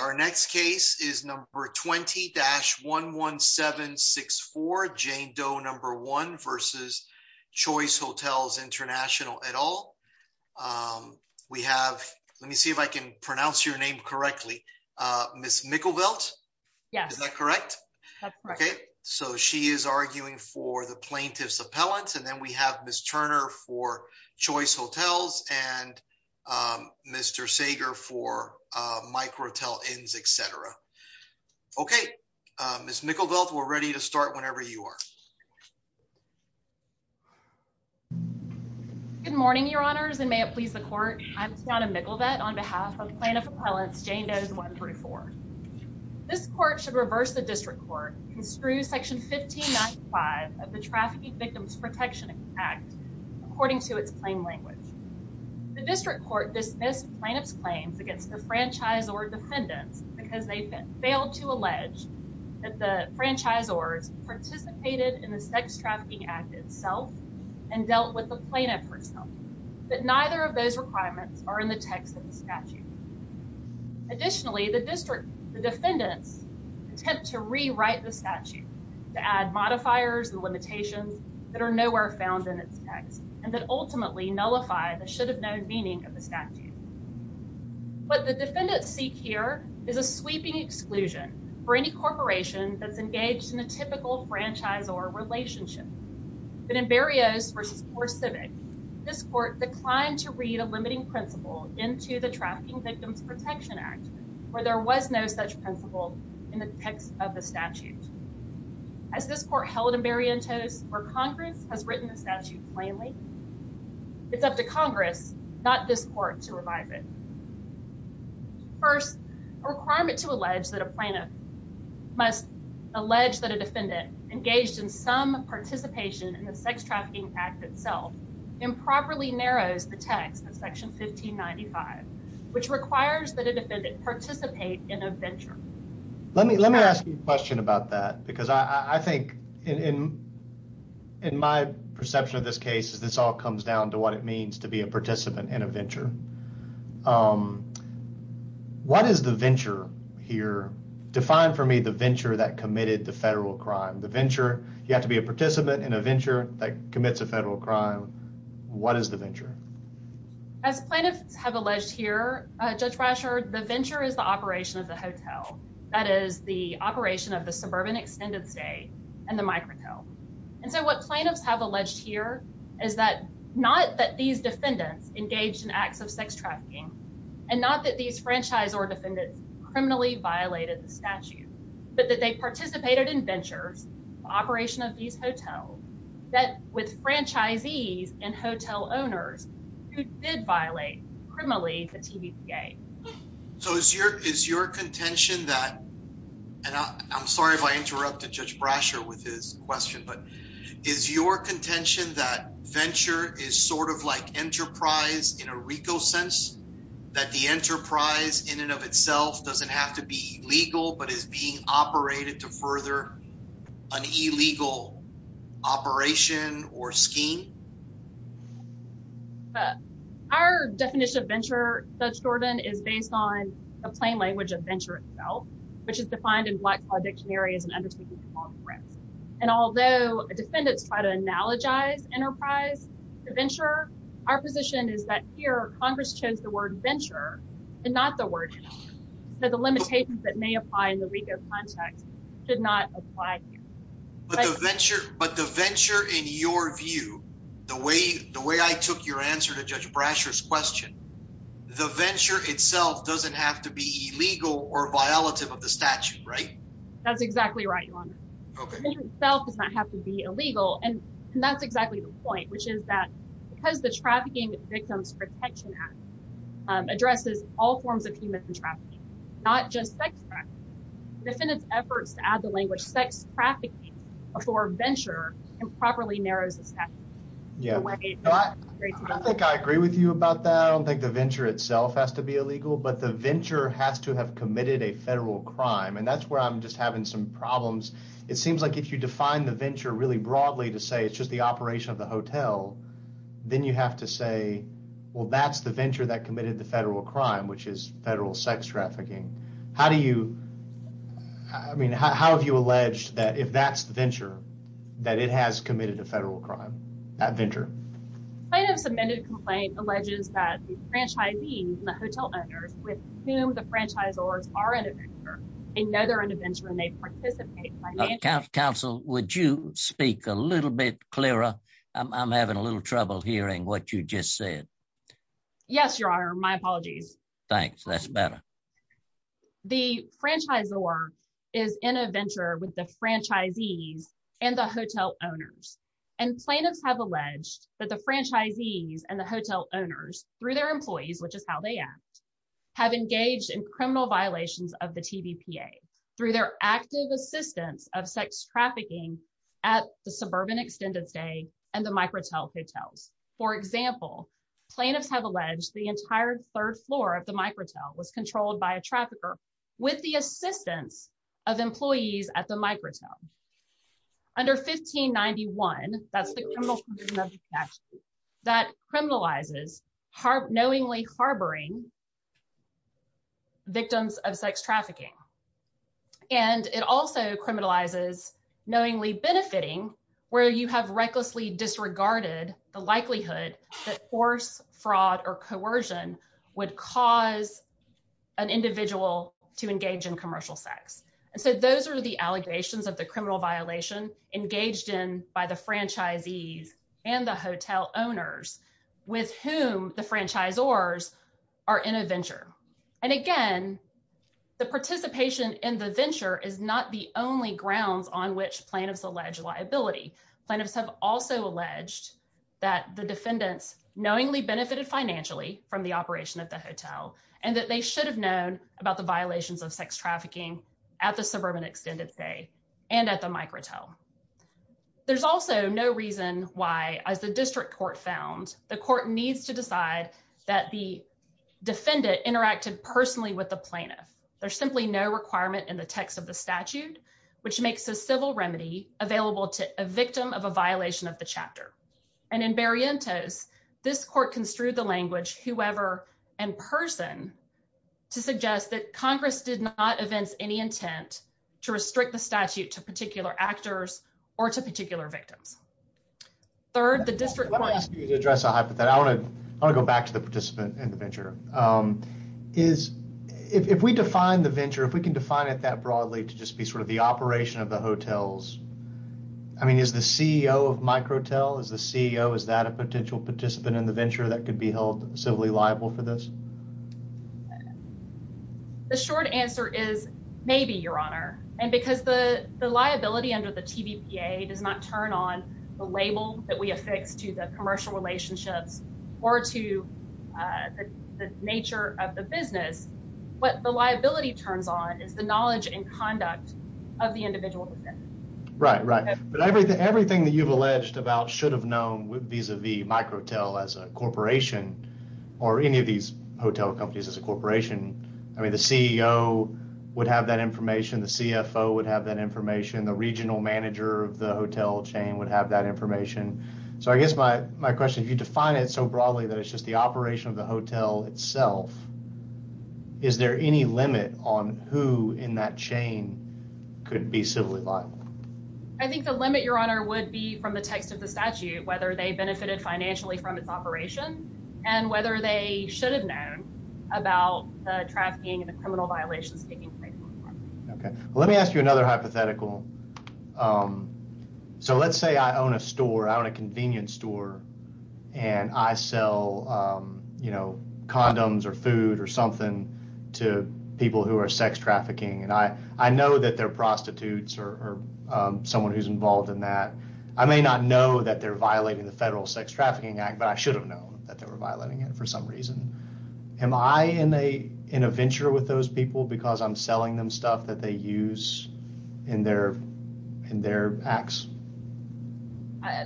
Our next case is number 20-11764 Jane Doe 1 v. Choice Hotels International et al. We have, let me see if I can pronounce your name correctly, Ms. Mikkelveld? Yes. Is that correct? That's correct. Okay, so she is arguing for the plaintiff's appellant and then we have Ms. Turner for Choice Hotels and Mr. Sager for Micro Hotel Inns, et al. Okay, Ms. Mikkelveld, we're ready to start whenever you are. Good morning, your honors, and may it please the court. I'm Tiana Mikkelveld on behalf of Plaintiff Appellants Jane Doe 1 v. Choice Hotels International. This court should reverse the District Court dismissed plaintiff's claims against the franchise or defendants because they failed to allege that the franchisors participated in the sex trafficking act itself and dealt with the plaintiff herself, but neither of those requirements are in the text of the statute. Additionally, the defendant's attempt to rewrite the statute to add modifiers and and that ultimately nullify the should have known meaning of the statute. What the defendants seek here is a sweeping exclusion for any corporation that's engaged in a typical franchise or relationship, but in Berrios v. CoreCivic, this court declined to read a limiting principle into the Trafficking Victims Protection Act where there was no such principle in the text of the statute. As this court held in Berrientos where Congress has written the statute plainly, it's up to Congress, not this court, to revive it. First, a requirement to allege that a plaintiff must allege that a defendant engaged in some participation in the sex trafficking act itself improperly narrows the text of section 1595, which requires that a defendant participate in a venture. Let me let me ask you a question about that because I think in my perception of this case is this all comes down to what it means to be a participant in a venture. What is the venture here? Define for me the venture that committed the federal crime. The venture, you have to be a participant in a venture that commits a federal crime. What is the venture? As plaintiffs have alleged here, Judge Brasher, the venture is the operation of the hotel. That is the operation of the Suburban Extended Stay and the microco. And so what plaintiffs have alleged here is that not that these defendants engaged in acts of sex trafficking and not that these franchise or defendants criminally violated the statute, but that they participated in ventures operation of these hotels that with franchisees and hotel owners did violate criminally the TVPA. So is your is your contention that, and I'm sorry if I interrupted Judge Brasher with his question, but is your contention that venture is sort of like enterprise in a Rico sense that the enterprise in and of itself doesn't have to be legal but is being operated to further an illegal operation or scheme? Our definition of venture, Judge Jordan, is based on the plain language of venture itself, which is defined in Black Claw Dictionary as an undertaking to perform a risk. And although defendants try to analogize enterprise to venture, our position is that here Congress chose the word venture and not the word enterprise. So the limitations that may apply in the Rico context should not apply here. But the venture, but the venture in your view, the way the way I took your answer to Judge Brasher's question, the venture itself doesn't have to be illegal or violative of the statute, right? That's exactly right, Your Honor. The venture itself does not have to be illegal. And that's exactly the point, which is that because the Trafficking Victims Protection Act addresses all forms of human trafficking, not just sex trafficking, defendants efforts to add the Yeah. I think I agree with you about that. I don't think the venture itself has to be illegal, but the venture has to have committed a federal crime. And that's where I'm just having some problems. It seems like if you define the venture really broadly to say it's just the operation of the hotel, then you have to say, well, that's the venture that committed the federal crime, which is federal sex trafficking. How do you, I mean, how have you alleged that if that's the venture? Plaintiff's amended complaint alleges that the franchisees and the hotel owners with whom the franchisors are in a venture, they know they're in a venture and they participate. Counsel, would you speak a little bit clearer? I'm having a little trouble hearing what you just said. Yes, Your Honor. My apologies. Thanks. That's better. The franchisor is in a venture with the franchisees and the hotel owners and plaintiffs have alleged that the franchisees and the hotel owners through their employees, which is how they act, have engaged in criminal violations of the TVPA through their active assistance of sex trafficking at the Suburban Extended Stay and the Microtel hotels. For example, plaintiffs have alleged the entire third floor of the Microtel was controlled by a trafficker with the assistance of employees at the Microtel. Under 1591, that's the criminal condition of the statute, that criminalizes knowingly harboring victims of sex trafficking. And it also criminalizes knowingly benefiting where you have recklessly disregarded the likelihood that force fraud or coercion would cause an individual to engage in commercial sex. And so those are the allegations of the criminal violation engaged in by the franchisees and the hotel owners with whom the franchisors are in a venture. And again, the participation in the venture is not the only grounds on which plaintiffs allege liability. Plaintiffs have also alleged that the defendants knowingly benefited financially from the operation of the hotel and that they should have known about the violations of sex trafficking at the Suburban Extended Stay and at the Microtel. There's also no reason why, as the district court found, the court needs to decide that the defendant interacted personally with the plaintiff. There's simply no requirement in the text of the statute, which makes a civil remedy available to a victim of a violation of the chapter. And in Berrientos, this court construed the language, whoever and person, to suggest that Congress did not evince any intent to restrict the statute to particular actors or to particular victims. Third, the district court... Let me ask you to address a hypothetical. I want to go back to the participant in the venture. If we define the venture, if we can define it that broadly to just be sort of the operation of the hotels, I mean, is the CEO of Microtel, is the CEO, is that a potential participant in the venture that could be held civilly liable for this? The short answer is maybe, Your Honor. And because the liability under the TVPA does not turn on the label that we affix to the commercial relationships or to the nature of the business, what the liability turns on is the knowledge and conduct of the individual. Right, right. But everything that you've alleged about should have known vis-a-vis Microtel as a corporation or any of these hotel companies as a corporation, I mean, the CEO would have that information. The CFO would have that information. The regional manager of the hotel chain would have that information. So I guess my question, if you define it so broadly that it's just the is there any limit on who in that chain could be civilly liable? I think the limit, Your Honor, would be from the text of the statute, whether they benefited financially from its operation and whether they should have known about the trafficking and the criminal violations taking place. Okay, let me ask you another hypothetical. So let's say I own a store, I own a convenience store, and I sell, you know, condoms or food or something to people who are sex trafficking, and I know that they're prostitutes or someone who's involved in that. I may not know that they're violating the Federal Sex Trafficking Act, but I should have known that they were violating it for some reason. Am I in a venture with those people because I'm selling them stuff that they use in their acts?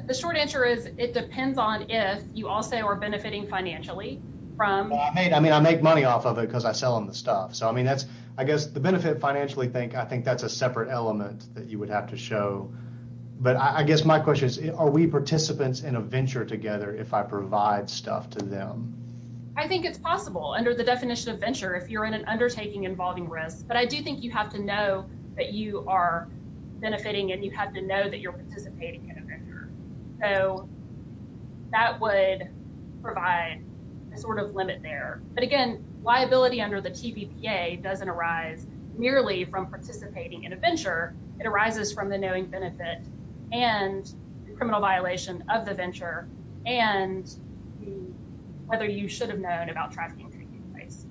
The short answer is, it depends on if you also are benefiting financially from... I mean, I make money off of it because I sell them the stuff. So I mean, that's, I guess, the benefit financially, I think that's a separate element that you would have to show. But I guess my question is, are we participants in a venture together if I provide stuff to them? I think it's possible under the definition of venture if you're in an undertaking involving risk. But I do think you have to know that you are benefiting and you have to know that you're participating in a venture. So that would provide a sort of limit there. But again, liability under the TVPA doesn't arise merely from participating in a venture, it arises from the knowing benefit and criminal violation of the venture and the... whether you should have known about trafficking taking place.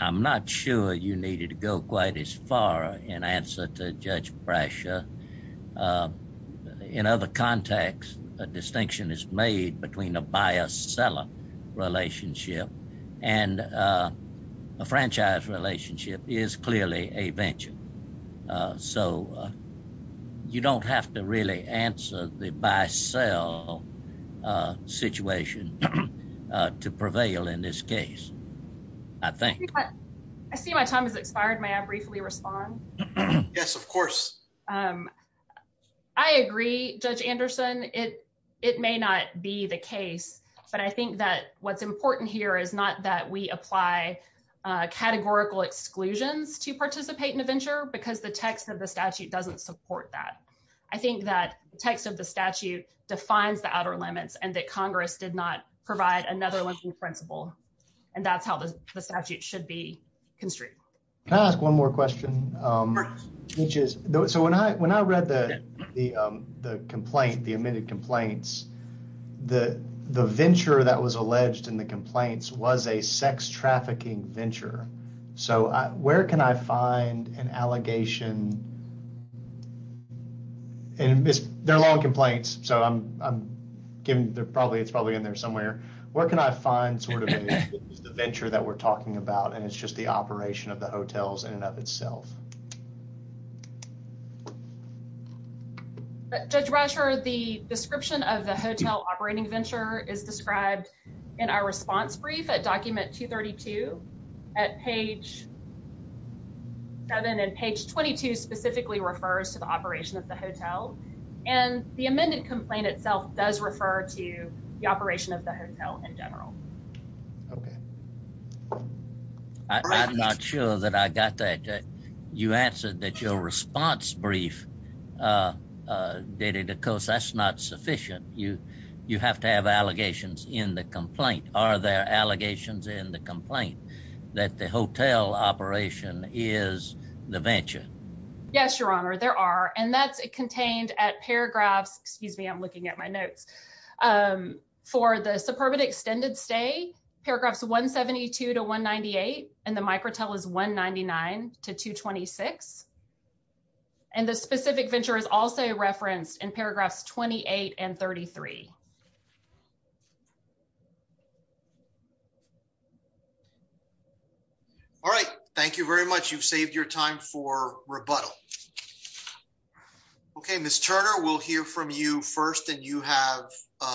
I'm not sure you needed to go quite as far in answer to Judge Brasher. In other contexts, a distinction is made between a buyer-seller relationship and a franchise relationship is clearly a venture. So you don't have to really answer the buy-sell a situation to prevail in this case, I think. I see my time has expired. May I briefly respond? Yes, of course. I agree, Judge Anderson, it may not be the case. But I think that what's important here is not that we apply categorical exclusions to participate in a venture because the text of the statute doesn't support that. I think that the text of the statute defines the outer limits and that Congress did not provide another limiting principle. And that's how the statute should be constricted. Can I ask one more question? So when I read the complaint, the admitted complaints, the venture that was alleged in the complaints was a sex trafficking venture. So where can I find an allegation? And there are a lot of complaints, so I'm giving, they're probably, it's probably in there somewhere. Where can I find sort of the venture that we're talking about and it's just the operation of the hotels in and of itself? Judge Brasher, the description of the hotel operating venture is described in our response brief at document 232 at page seven and page 22 specifically refers to the operation of the hotel. And the amended complaint itself does refer to the operation of the hotel in general. Okay. I'm not sure that I got that. You answered that your response brief dated because that's not sufficient. You have to have allegations in the complaint. Are there allegations in the complaint that the hotel operation is the venture? Yes, Your Honor, there are. And that's contained at paragraphs, excuse me, I'm looking at my notes. For the suburban extended stay, paragraphs 172 to 198 and the microtel is 199 to 226. And the specific venture is also referenced in paragraphs 28 and 33. All right. Thank you very much. You've saved your time for rebuttal. Okay. Ms. Turner, we'll hear from you first and you have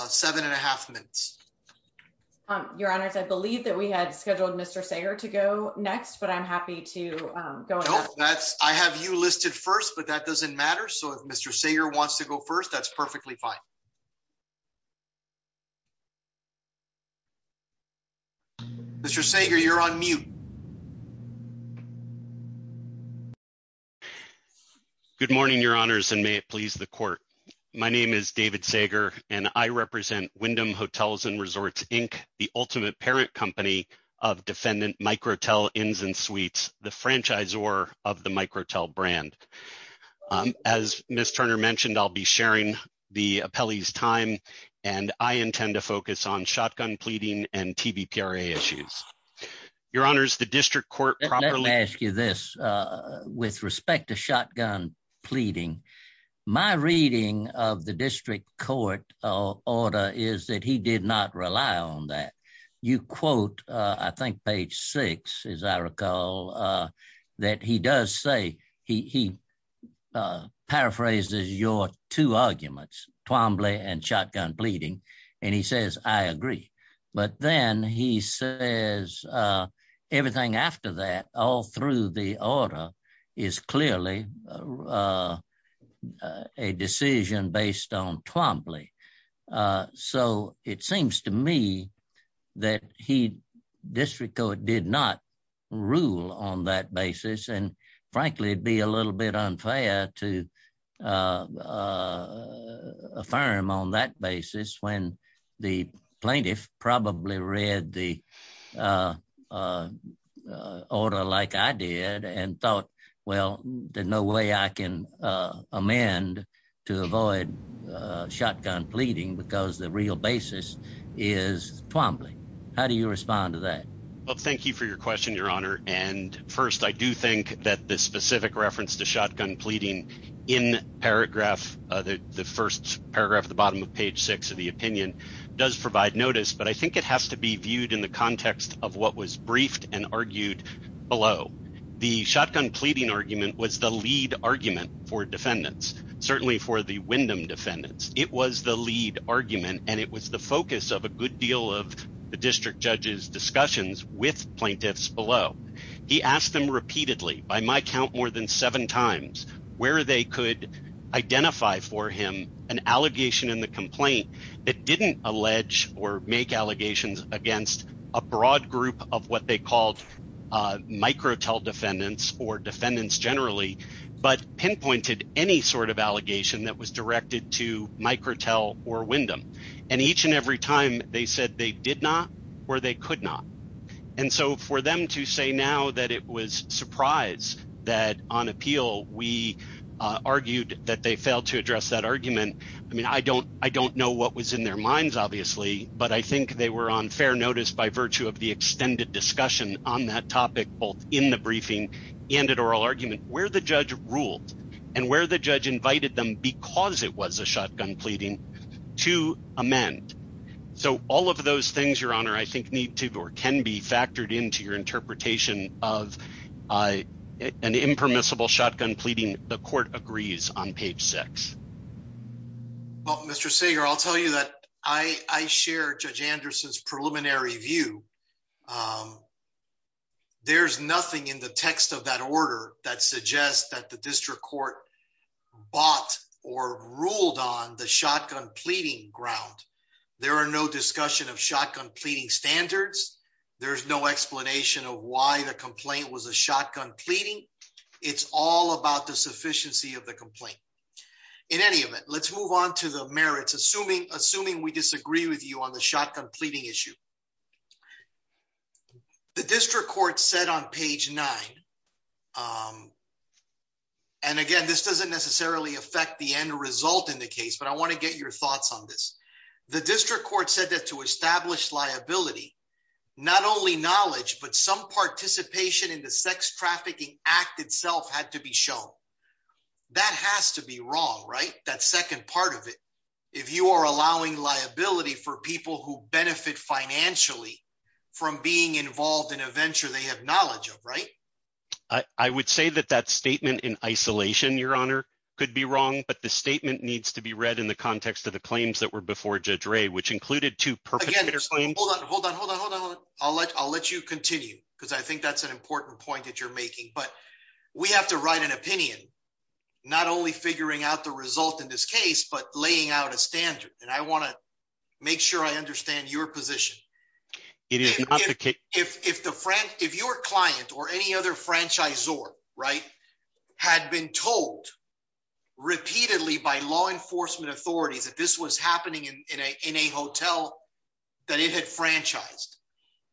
seven and a half minutes. Your Honors, I believe that we had scheduled Mr. Sager to go next, but I'm happy to go. I have you listed first, but that doesn't matter. So if Mr. Sager wants to go first, that's perfectly fine. Mr. Sager, you're on mute. Good morning, Your Honors, and may it please the court. My name is David Sager and I represent Wyndham Hotels and Resorts, Inc., the ultimate parent company of defendant microtel, the franchisor of the microtel brand. As Ms. Turner mentioned, I'll be sharing the appellee's time and I intend to focus on shotgun pleading and TBPRA issues. Your Honors, the district court properly... Let me ask you this. With respect to shotgun pleading, my reading of the district court order is that he did not rely on that. You quote, I think page six, as I recall, that he does say he paraphrases your two arguments, Twombly and shotgun pleading, and he says, I agree. But then he says everything after that, all through the order, is clearly a decision based on Twombly. So it seems to me that he, district court, did not rule on that basis. And frankly, it'd be a little bit unfair to affirm on that basis when the plaintiff probably read the order like I did and thought, well, there's no way I can amend to avoid shotgun pleading because the real basis is Twombly. How do you respond to that? Well, thank you for your question, Your Honor. And the bottom of page six of the opinion does provide notice, but I think it has to be viewed in the context of what was briefed and argued below. The shotgun pleading argument was the lead argument for defendants, certainly for the Wyndham defendants. It was the lead argument, and it was the focus of a good deal of the district judge's discussions with plaintiffs below. He asked them repeatedly, by my count more than seven times, where they could identify for complaint that didn't allege or make allegations against a broad group of what they called microtel defendants or defendants generally, but pinpointed any sort of allegation that was directed to microtel or Wyndham. And each and every time they said they did not or they could not. And so for them to say now that it was surprise that on appeal, we argued that they failed to I don't know what was in their minds, obviously, but I think they were on fair notice by virtue of the extended discussion on that topic, both in the briefing and at oral argument where the judge ruled and where the judge invited them because it was a shotgun pleading to amend. So all of those things, Your Honor, I think need to or can be factored into your interpretation of an impermissible shotgun pleading. The court agrees on page six. Well, Mr. Sager, I'll tell you that I share Judge Anderson's preliminary view. There's nothing in the text of that order that suggests that the district court bought or ruled on the shotgun pleading ground. There are no discussion of shotgun pleading standards. There's no explanation of why the complaint was a shotgun pleading. It's all about the sufficiency of the complaint. In any event, let's move on to the merits, assuming we disagree with you on the shotgun pleading issue. The district court said on page nine, and again, this doesn't necessarily affect the end result in the case, but I want to get your thoughts on this. The district court said that to establish liability, not only knowledge, but some participation in the sex trafficking act itself had to be shown. That has to be wrong, right? That second part of it. If you are allowing liability for people who benefit financially from being involved in a venture they have knowledge of, right? I would say that that statement in isolation, Your Honor, could be wrong, but the statement needs to be read in the context of the claims that were before Judge Ray, which included two perpetrators. Hold on. Hold on. Hold on. Hold on. I'll let you continue because I think that's an important point that you're making, but we have to write an opinion, not only figuring out the result in this case, but laying out a standard. And I want to make sure I understand your position. If your client or any other franchisor, right, had been told repeatedly by law enforcement authorities that this was happening in a hotel that it had franchised,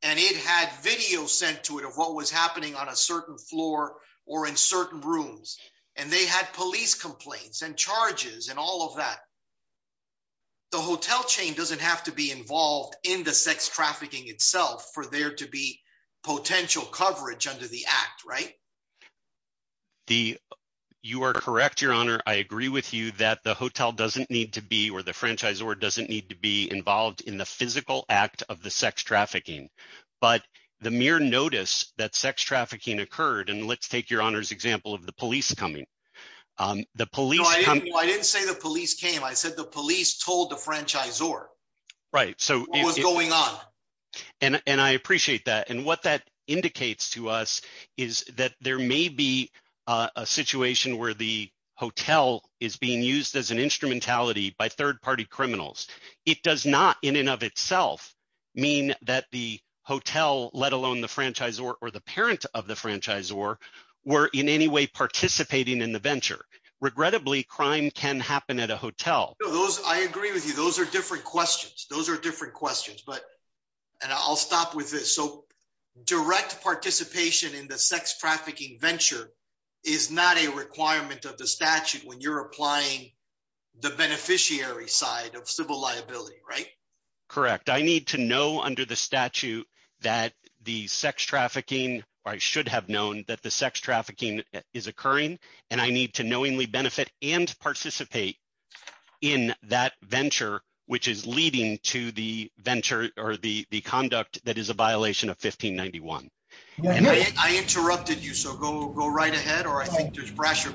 and it had video sent to it of what was happening on a certain floor or in certain rooms, and they had police complaints and charges and all of that, the hotel chain doesn't have to be involved in the sex trafficking itself for there to be You are correct, Your Honor. I agree with you that the hotel doesn't need to be, or the franchisor doesn't need to be involved in the physical act of the sex trafficking. But the mere notice that sex trafficking occurred, and let's take Your Honor's example of the police coming. I didn't say the police came. I said the police told the franchisor what was going on. And I appreciate that. And what that indicates to us is that there may be a situation where the hotel is being used as an instrumentality by third-party criminals. It does not in and of itself mean that the hotel, let alone the franchisor or the parent of the franchisor, were in any way participating in the venture. Regrettably, crime can happen at a hotel. I agree with you. Those are different questions. Those are different questions. And I'll stop with this. So direct participation in the sex trafficking venture is not a requirement of the statute when you're applying the beneficiary side of civil liability, right? Correct. I need to know under the statute that the sex trafficking, or I should have known that sex trafficking is occurring, and I need to knowingly benefit and participate in that venture which is leading to the venture or the conduct that is a violation of 1591. I interrupted you, so go right ahead, or I think there's pressure.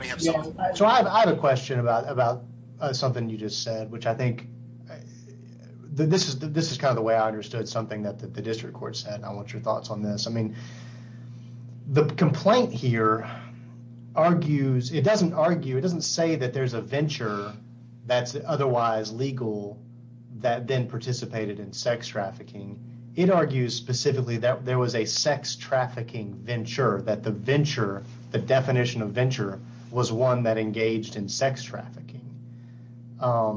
So I have a question about something you just said, which I think this is kind of the way I understood something that the district court said. I want your thoughts on this. I mean, the complaint here argues, it doesn't argue, it doesn't say that there's a venture that's otherwise legal that then participated in sex trafficking. It argues specifically that there was a sex trafficking venture, that the venture, the definition of venture, was one that engaged in sex trafficking. I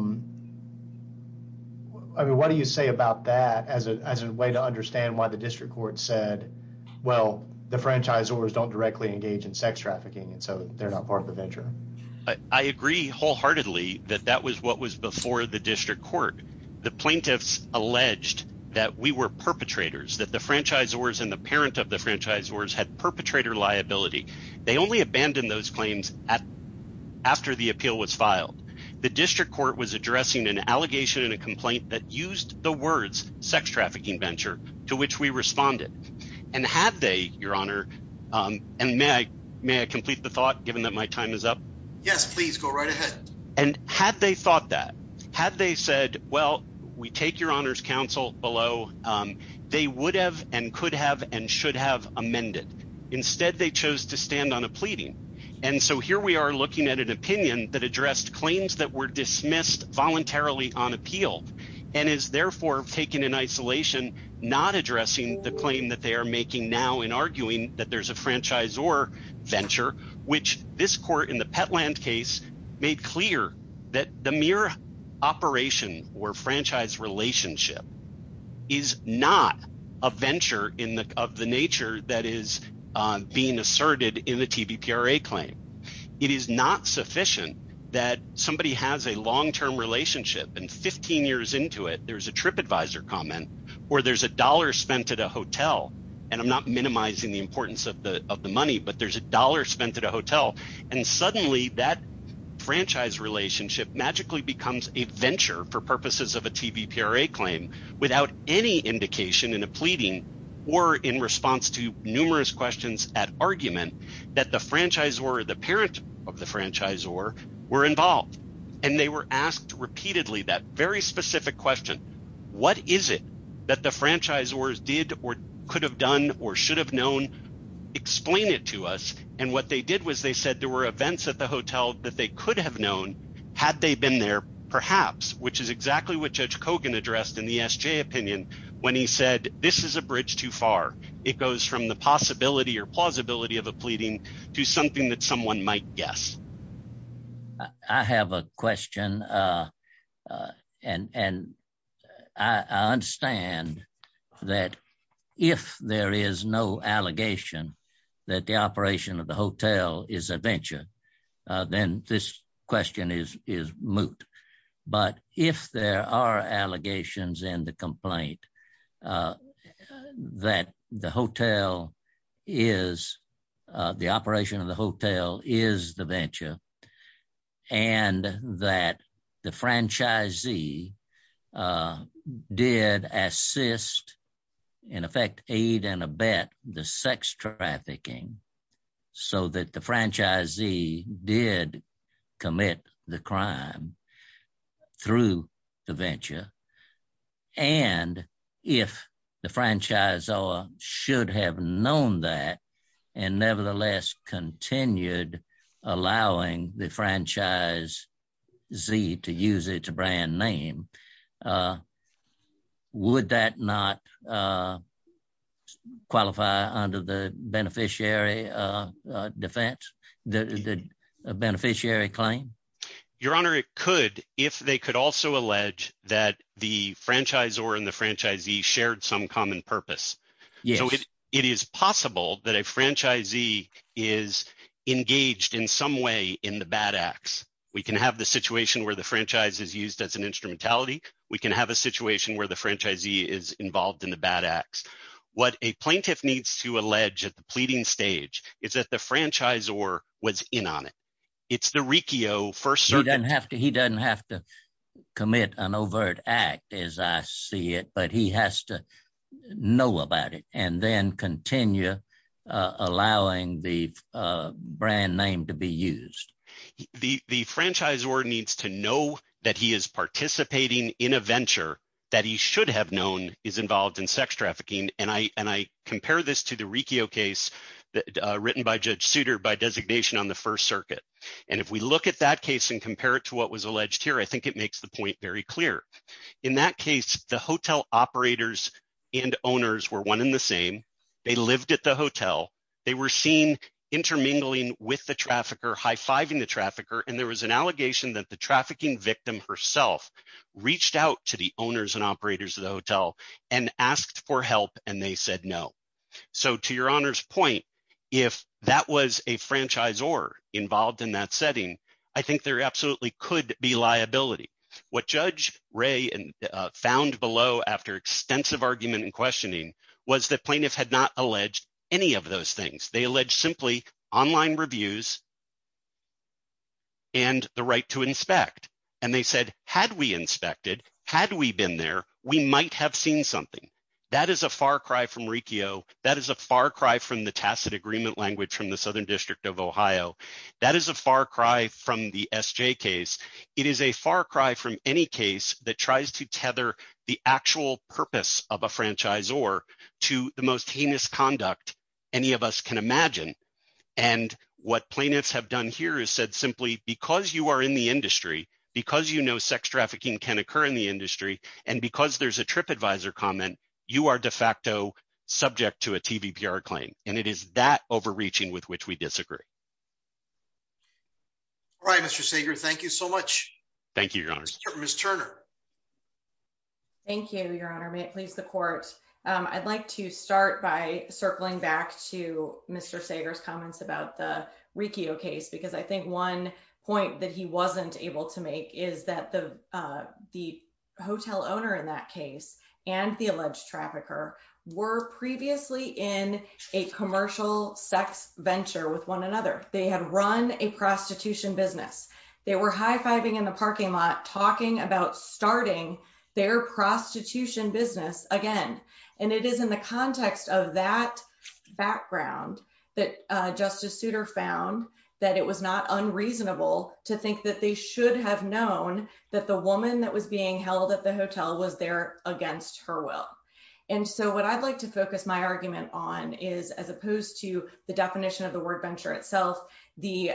mean, what do you say about that as a way to understand why the district court said, well, the franchisors don't directly engage in sex trafficking, and so they're not part of the venture? I agree wholeheartedly that that was what was before the district court. The plaintiffs alleged that we were perpetrators, that the franchisors and the parent of the franchisors had perpetrator liability. They only abandoned those claims after the appeal was filed. The district court was addressing an allegation and a complaint that used the words sex trafficking venture, to which we responded. And had they, your honor, and may I complete the thought, given that my time is up? Yes, please go right ahead. And had they thought that, had they said, well, we take your honor's counsel below, they would have and could have and should have amended. Instead, they chose to stand on a pleading. And so here we are looking at an opinion that not addressing the claim that they are making now in arguing that there's a franchisor venture, which this court in the Petland case made clear that the mere operation or franchise relationship is not a venture in the of the nature that is being asserted in the TBPRA claim. It is not sufficient that somebody has a long-term relationship and 15 years into it, there's a trip comment, or there's a dollar spent at a hotel. And I'm not minimizing the importance of the money, but there's a dollar spent at a hotel. And suddenly that franchise relationship magically becomes a venture for purposes of a TBPRA claim without any indication in a pleading or in response to numerous questions at argument that the franchise or the parent of the franchise or were involved. And they were asked repeatedly that very specific question. What is it that the franchise wars did or could have done or should have known? Explain it to us. And what they did was they said there were events at the hotel that they could have known had they been there, perhaps, which is exactly what Judge Kogan addressed in the SJ opinion. When he said, this is a bridge too far. It goes from the possibility or plausibility of a pleading to something that someone might guess. I have a question. And I understand that if there is no allegation that the operation of the hotel is a venture, then this question is moot. But if there are allegations in the complaint that the operation of the hotel is the venture and that the franchisee did assist, in effect, aid and abet the sex trafficking so that the franchisee did the crime through the venture. And if the franchise or should have known that and nevertheless continued allowing the franchisee to use it to brand name, would that not qualify under the beneficiary defense, the beneficiary claim? Your Honor, it could if they could also allege that the franchise or in the franchisee shared some common purpose. So it is possible that a franchisee is engaged in some way in the bad acts. We can have the situation where the franchise is used as an instrumentality. We can have a situation where the franchisee is involved in the bad acts. What a plaintiff needs to allege at the pleading stage is that the franchise or was in on it. It's the Riccio. First, you don't have to he doesn't have to commit an overt act as I see it, but he has to know about it and then continue allowing the brand name to be used. The franchise or needs to know that he is participating in a venture that he should have known is involved in sex trafficking. And I and I compare this to the Riccio case written by Judge Souter by designation on the First Circuit. And if we look at that case and compare it to what was alleged here, I think it makes the point very clear. In that case, the hotel operators and owners were one in the same. They lived at the hotel. They were seen intermingling with the trafficker, high fiving the trafficker. And there was an allegation that trafficking victim herself reached out to the owners and operators of the hotel and asked for help. And they said no. So to your honor's point, if that was a franchise or involved in that setting, I think there absolutely could be liability. What Judge Ray found below after extensive argument and questioning was that plaintiff had not alleged any of those things. They alleged simply online reviews. And the right to inspect, and they said, had we inspected, had we been there, we might have seen something that is a far cry from Riccio. That is a far cry from the tacit agreement language from the Southern District of Ohio. That is a far cry from the SJ case. It is a far cry from any case that tries to tether the actual purpose of a franchise or to the most heinous conduct any of us can imagine. And what plaintiffs have done here is said simply, because you are in the industry, because you know sex trafficking can occur in the industry, and because there's a TripAdvisor comment, you are de facto subject to a TVPR claim. And it is that overreaching with which we disagree. All right, Mr. Sager, thank you so much. Thank you, Your Honor. Ms. Turner. Thank you, Your Honor. May it please the court. I'd like to start by circling back to Mr. Sager's comments about the Riccio case, because I think one point that he wasn't able to make is that the hotel owner in that case and the alleged trafficker were previously in a commercial sex venture with one another. They had run a prostitution business. They were high-fiving in the parking lot talking about starting their prostitution business again. And it is in the context of that background that Justice Souter found that it was not unreasonable to think that they should have known that the woman that was being held at the hotel was there against her will. And so what I'd like to focus my argument on is, as opposed to the definition of the word venture itself, the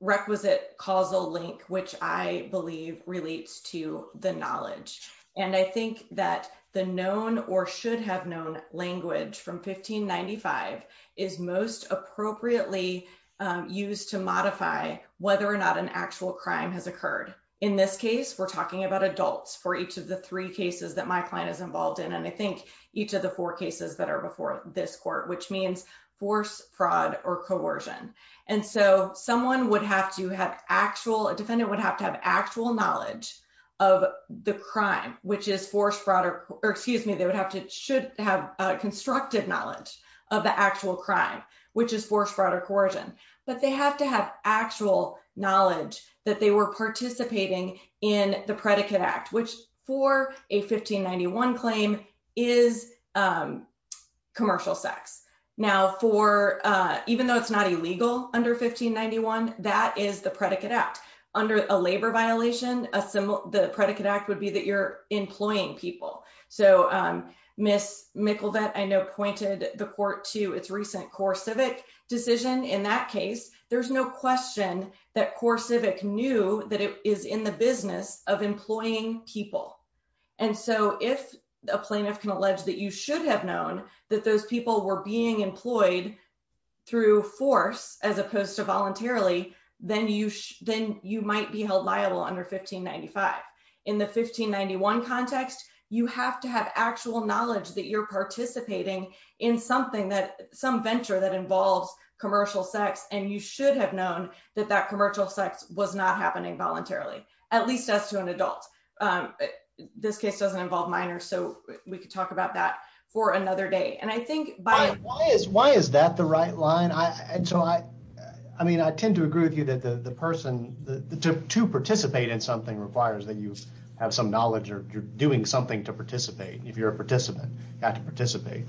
requisite causal link, which I believe relates to the knowledge. And I think that the known or should have known language from 1595 is most appropriately used to modify whether or not an actual crime has occurred. In this case, we're talking about adults for each of the three cases that my client is involved in. And I think each of the four cases that are before this court, which means force, fraud, or coercion. And so someone would have to have actual, a defendant would have to have actual knowledge of the crime, which is force, fraud, or excuse me, they would have to, should have a constructive knowledge of the actual crime, which is force, fraud, or coercion. But they have to have actual knowledge that they were participating in the a 1591 claim is commercial sex. Now for, even though it's not illegal under 1591, that is the predicate act. Under a labor violation, a symbol, the predicate act would be that you're employing people. So Miss Mikkelvedt, I know pointed the court to its recent core civic decision. In that case, there's no question that core civic knew that it is in the business of employing people. And so if a plaintiff can allege that you should have known that those people were being employed through force, as opposed to voluntarily, then you, then you might be held liable under 1595. In the 1591 context, you have to have actual knowledge that you're participating in something that some venture that involves commercial sex. And you should have known that that commercial sex was not happening voluntarily, at least as to an adult. This case doesn't involve minors. So we could talk about that for another day. And I think- Why is that the right line? I mean, I tend to agree with you that the person to participate in something requires that you have some knowledge or you're doing something to participate. If you're a participant, you have to participate,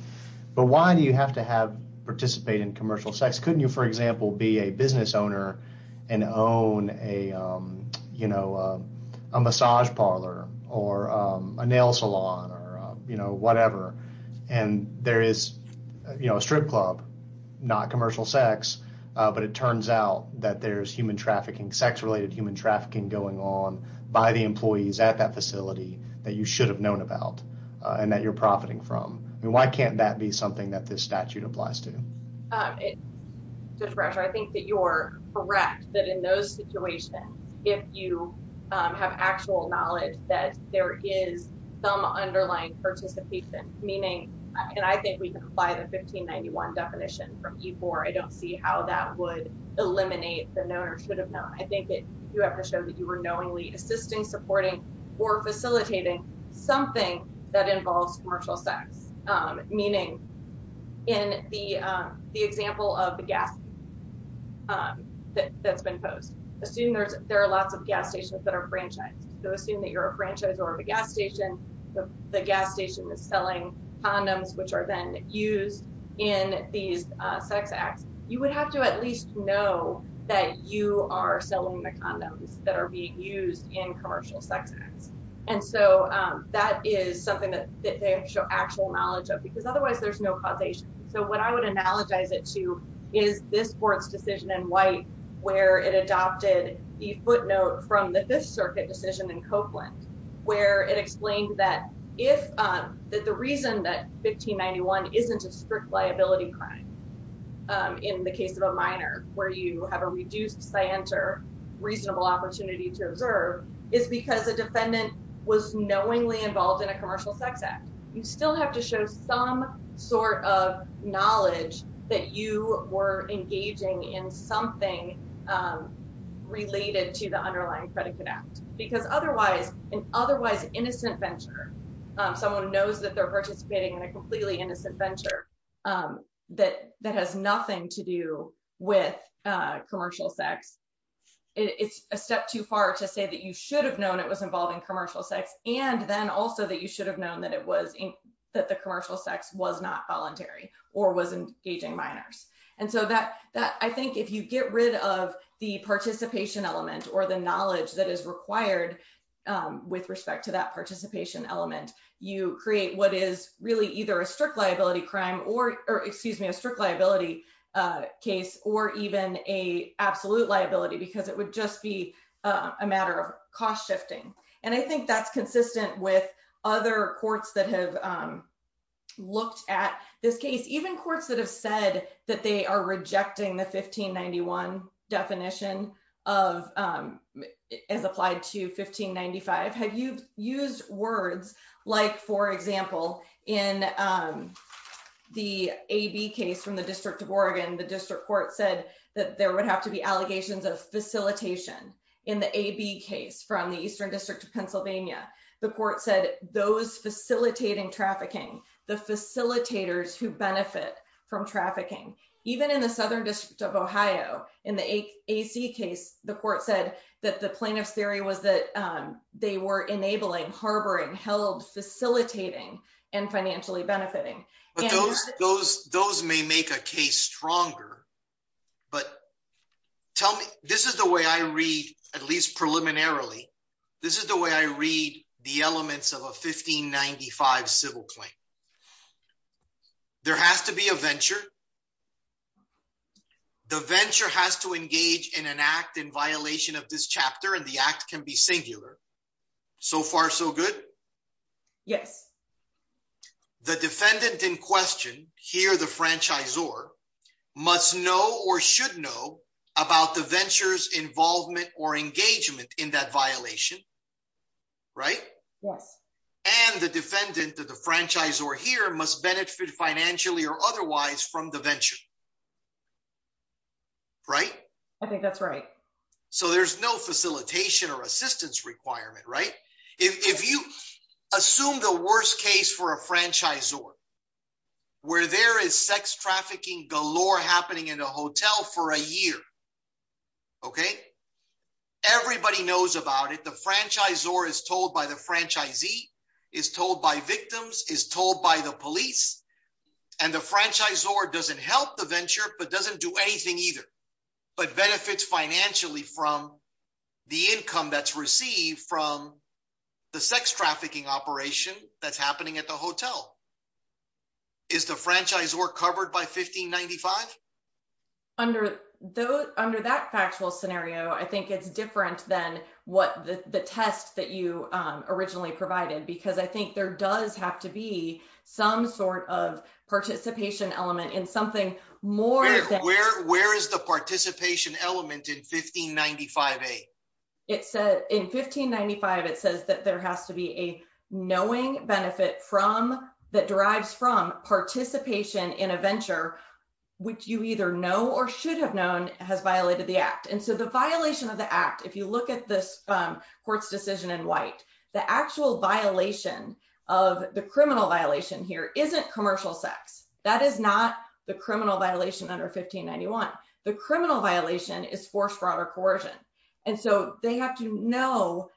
but why do you have to have participate in commercial sex? Couldn't you, for example, be a business owner and own a, you know, a massage parlor or a nail salon or, you know, whatever. And there is, you know, a strip club, not commercial sex. But it turns out that there's human trafficking, sex-related human trafficking going on by the employees at that facility that you should have known about and that you're profiting from. I mean, can't that be something that this statute applies to? Judge Bradshaw, I think that you're correct that in those situations, if you have actual knowledge that there is some underlying participation, meaning, and I think we can apply the 1591 definition from E-4. I don't see how that would eliminate the known or should have known. I think that you have to show that you were knowingly assisting, supporting, or facilitating something that involves commercial sex. Meaning, in the example of the gas that's been posed, assume there are lots of gas stations that are franchised. So, assume that you're a franchiser of a gas station. The gas station is selling condoms, which are then used in these sex acts. You would have to at least know that you are selling the condoms that are used in commercial sex acts. And so, that is something that they have to show actual knowledge of because otherwise there's no causation. So, what I would analogize it to is this Court's decision in White where it adopted the footnote from the Fifth Circuit decision in Copeland, where it explained that if, that the reason that 1591 isn't a strict liability crime in the case of a minor where you have a reduced science or reasonable opportunity to observe is because the defendant was knowingly involved in a commercial sex act. You still have to show some sort of knowledge that you were engaging in something related to the underlying predicate act because otherwise, an otherwise innocent venture, someone knows that they're participating in a completely innocent venture that has nothing to do with commercial sex. It's a step too far to say that you should have known it was involving commercial sex and then also that you should have known that the commercial sex was not voluntary or was engaging minors. And so, I think if you get rid of the participation element or the knowledge that is required with respect to that participation element, you create what is really either a strict liability case or even a absolute liability because it would just be a matter of cost shifting. And I think that's consistent with other courts that have looked at this case, even courts that have said that they are rejecting the 1591 definition as applied to 1595. Have you used words like, for example, in the AB case from the District of Oregon, the district court said that there would have to be allegations of facilitation in the AB case from the Eastern District of Pennsylvania. The court said those facilitating trafficking, the facilitators who even in the Southern District of Ohio, in the AC case, the court said that the plaintiff's theory was that they were enabling, harboring, held, facilitating, and financially benefiting. Those may make a case stronger, but tell me, this is the way I read, at least preliminarily, this is the way I read the elements of a 1595 civil claim. There has to be a venture. The venture has to engage in an act in violation of this chapter and the act can be singular. So far so good? Yes. The defendant in question, here the franchisor, must know or should know about the venture's involvement or engagement in that violation, right? Yes. And the defendant, the franchisor here, must benefit financially or otherwise from the venture, right? I think that's right. So there's no facilitation or assistance requirement, right? If you assume the worst case for a franchisor, where there is sex trafficking galore happening in a hotel for a year, okay? Everybody knows about it. The franchisor is told by the franchisee, is told by victims, is told by the police, and the franchisor doesn't help the venture, but doesn't do anything either, but benefits financially from the income that's received from the sex trafficking operation that's happening at the hotel. Is the franchisor covered by 1595? Under that factual scenario, I think it's different than what the test that you originally provided, because I think there does have to be some sort of participation element in something more than- Where is the participation element in 1595a? In 1595, it says that there has to be a knowing benefit that derives from participation in a venture, which you either know or should have known has violated the act. And so the violation of the act, if you look at this court's decision in white, the actual violation of the criminal violation here isn't commercial sex. That is not the criminal violation under 1591. The criminal violation is force, fraud, or coercion. And so they have to know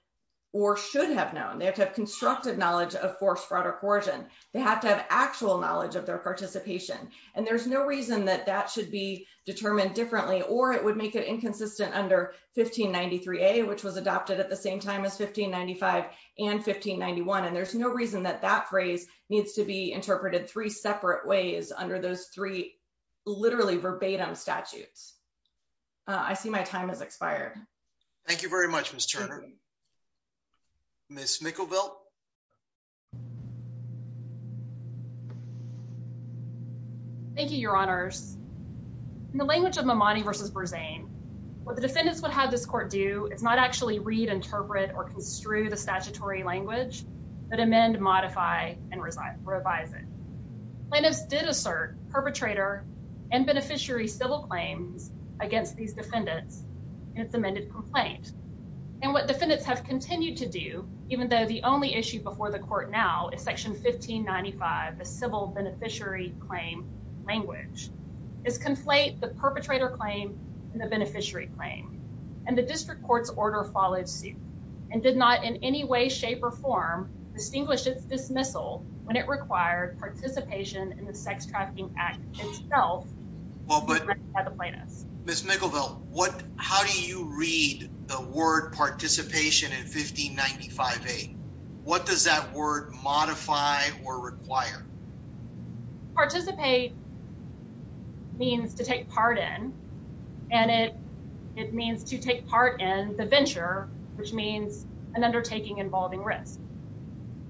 or should have known. They have to have constructive knowledge of force, fraud, or coercion. They have to have actual knowledge of their participation. And there's no reason that that should be determined differently, or it would make it inconsistent under 1593a, which was adopted at the same time as 1595 and 1591. And there's no reason that that phrase needs to be interpreted three separate ways under those three literally verbatim statutes. I see my time has expired. Thank you very much, Ms. Turner. Ms. Mickelvelt. Thank you, your honors. In the language of Mamadi versus Berzane, what the defendants would have this court do is not actually read, interpret, or construe the statutory language, but amend, modify, and revise it. Plaintiffs did assert perpetrator and beneficiary civil claims against these defendants in its amended complaint. And what defendants have continued to do, even though the only issue before the court now is section 1595, the civil beneficiary claim language, is conflate the perpetrator claim and the beneficiary claim. And the district court's order followed suit and did not in any way, shape, or form distinguish its dismissal when it required participation in the Sex Trafficking Act itself. Ms. Mickelvelt, how do you read the word participation in 1595A? What does that word modify or require? Participate means to take part in, and it means to take part in the venture, which means an undertaking involving risk.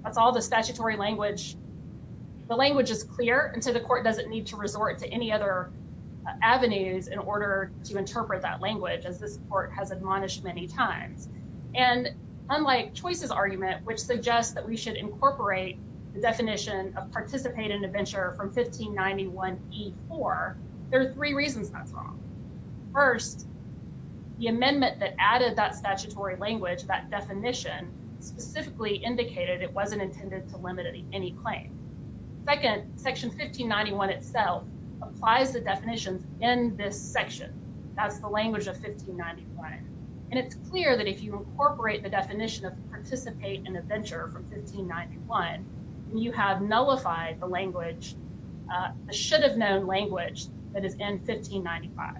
That's all the statutory language. The language is clear, and so the court doesn't need to resort to any other avenues in order to interpret that language, as this court has admonished many times. And unlike Choice's argument, which suggests that we should incorporate the definition of participate in a venture from 1591E4, there are three reasons that's wrong. First, the amendment that added that statutory language, that definition, specifically indicated it wasn't intended to limit any claim. Second, section 1591 itself applies the definitions in this section. That's the language of 1591. And it's clear that if you incorporate the definition of participate in a venture from 1591, you have nullified the language, the should have known language, that is in 1595.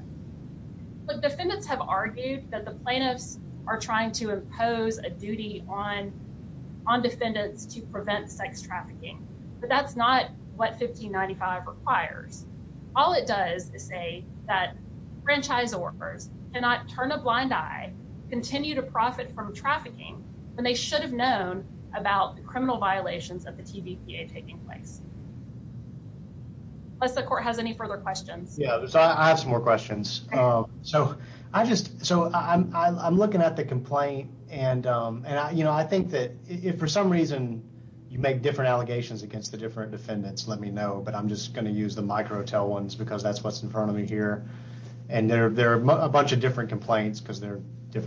But defendants have argued that the plaintiffs are trying to impose a duty on defendants to prevent sex trafficking, but that's not what 1595 requires. All it does is say that franchise workers cannot turn a blind eye, continue to profit from trafficking, when they should have known about the criminal violations of the TVPA taking place. Unless the court has any further questions. Yeah, I have some more questions. So I just, so I'm looking at the complaint and I think that if for some reason you make different allegations against the different defendants, let me know, but I'm just going to use the micro tell ones because that's what's in front of me here. And there are a bunch of different the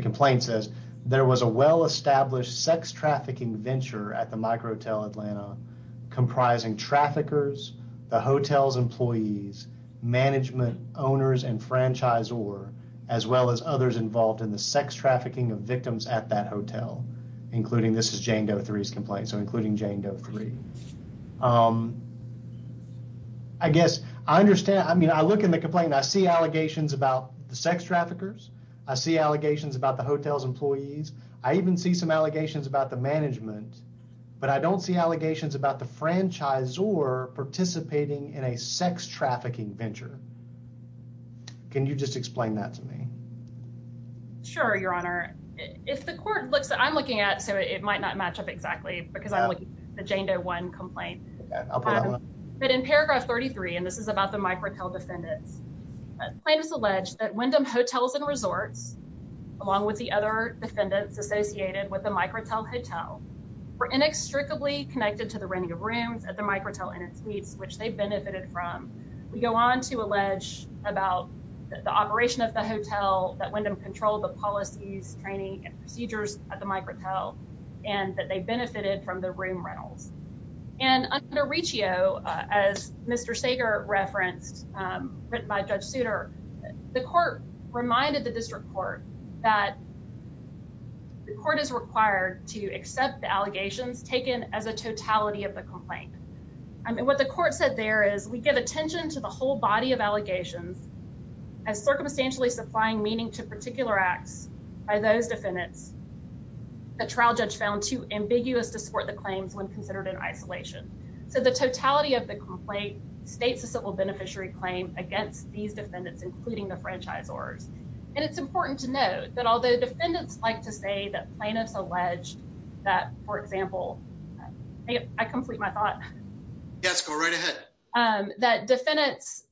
complaint says there was a well-established sex trafficking venture at the micro hotel Atlanta comprising traffickers, the hotel's employees, management owners, and franchisor, as well as others involved in the sex trafficking of victims at that hotel, including this is Jane Doe three's complaint. So including Jane Doe three, I guess I understand. I mean, I look in the complaint, I see allegations about the sex traffickers. I see allegations about the hotel's employees. I even see some allegations about the management, but I don't see allegations about the franchise or participating in a sex trafficking venture. Can you just explain that to me? Sure. Your honor, if the court looks, I'm looking at, so it might not match up exactly because I'm looking at the Jane Doe one complaint, but in paragraph 33, and this is about the micro hotel defendants, plaintiffs allege that Wyndham hotels and resorts, along with the other defendants associated with the micro hotel, were inextricably connected to the renting of rooms at the micro hotel in its meats, which they benefited from. We go on to allege about the operation of the hotel that Wyndham controlled the policies, training, and procedures at the micro hotel, and that they written by Judge Souter. The court reminded the district court that the court is required to accept the allegations taken as a totality of the complaint. I mean, what the court said there is we give attention to the whole body of allegations as circumstantially supplying meaning to particular acts by those defendants. The trial judge found too ambiguous to support the claims when considered in isolation. So the totality of the complaint states the civil beneficiary claim against these defendants, including the franchisors. And it's important to note that although defendants like to say that plaintiffs alleged that, for example, I complete my thought. Yes, go right ahead. That defendants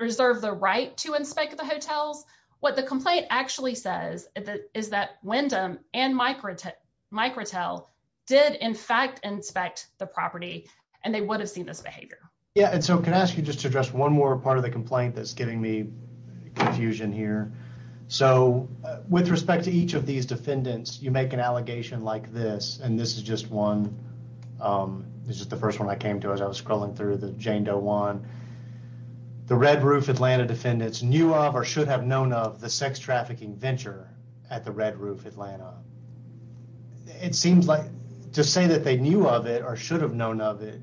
reserve the right to inspect the hotels. What the complaint actually says is that Wyndham and micro hotel did in fact inspect the Yeah, and so can I ask you just to address one more part of the complaint that's giving me confusion here? So with respect to each of these defendants, you make an allegation like this, and this is just one. This is the first one I came to as I was scrolling through the Jane Doe one. The Red Roof Atlanta defendants knew of or should have known of the sex trafficking venture at the Red Roof Atlanta. It seems like to say that they knew of it or should have known of it.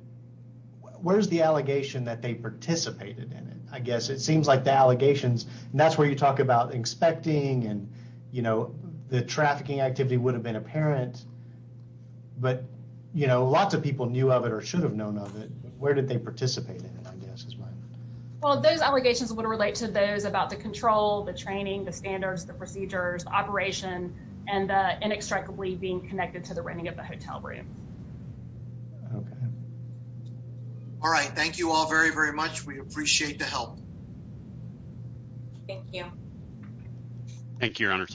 Where's the allegation that they participated in it? I guess it seems like the allegations, and that's where you talk about inspecting and, you know, the trafficking activity would have been apparent. But, you know, lots of people knew of it or should have known of it. Where did they participate in it? I guess as well. Well, those allegations would relate to those about the control, the training, the standards, the procedures, operation and inextricably being All right. Thank you all very, very much. We appreciate the help. Thank you. Thank you, Your Honor.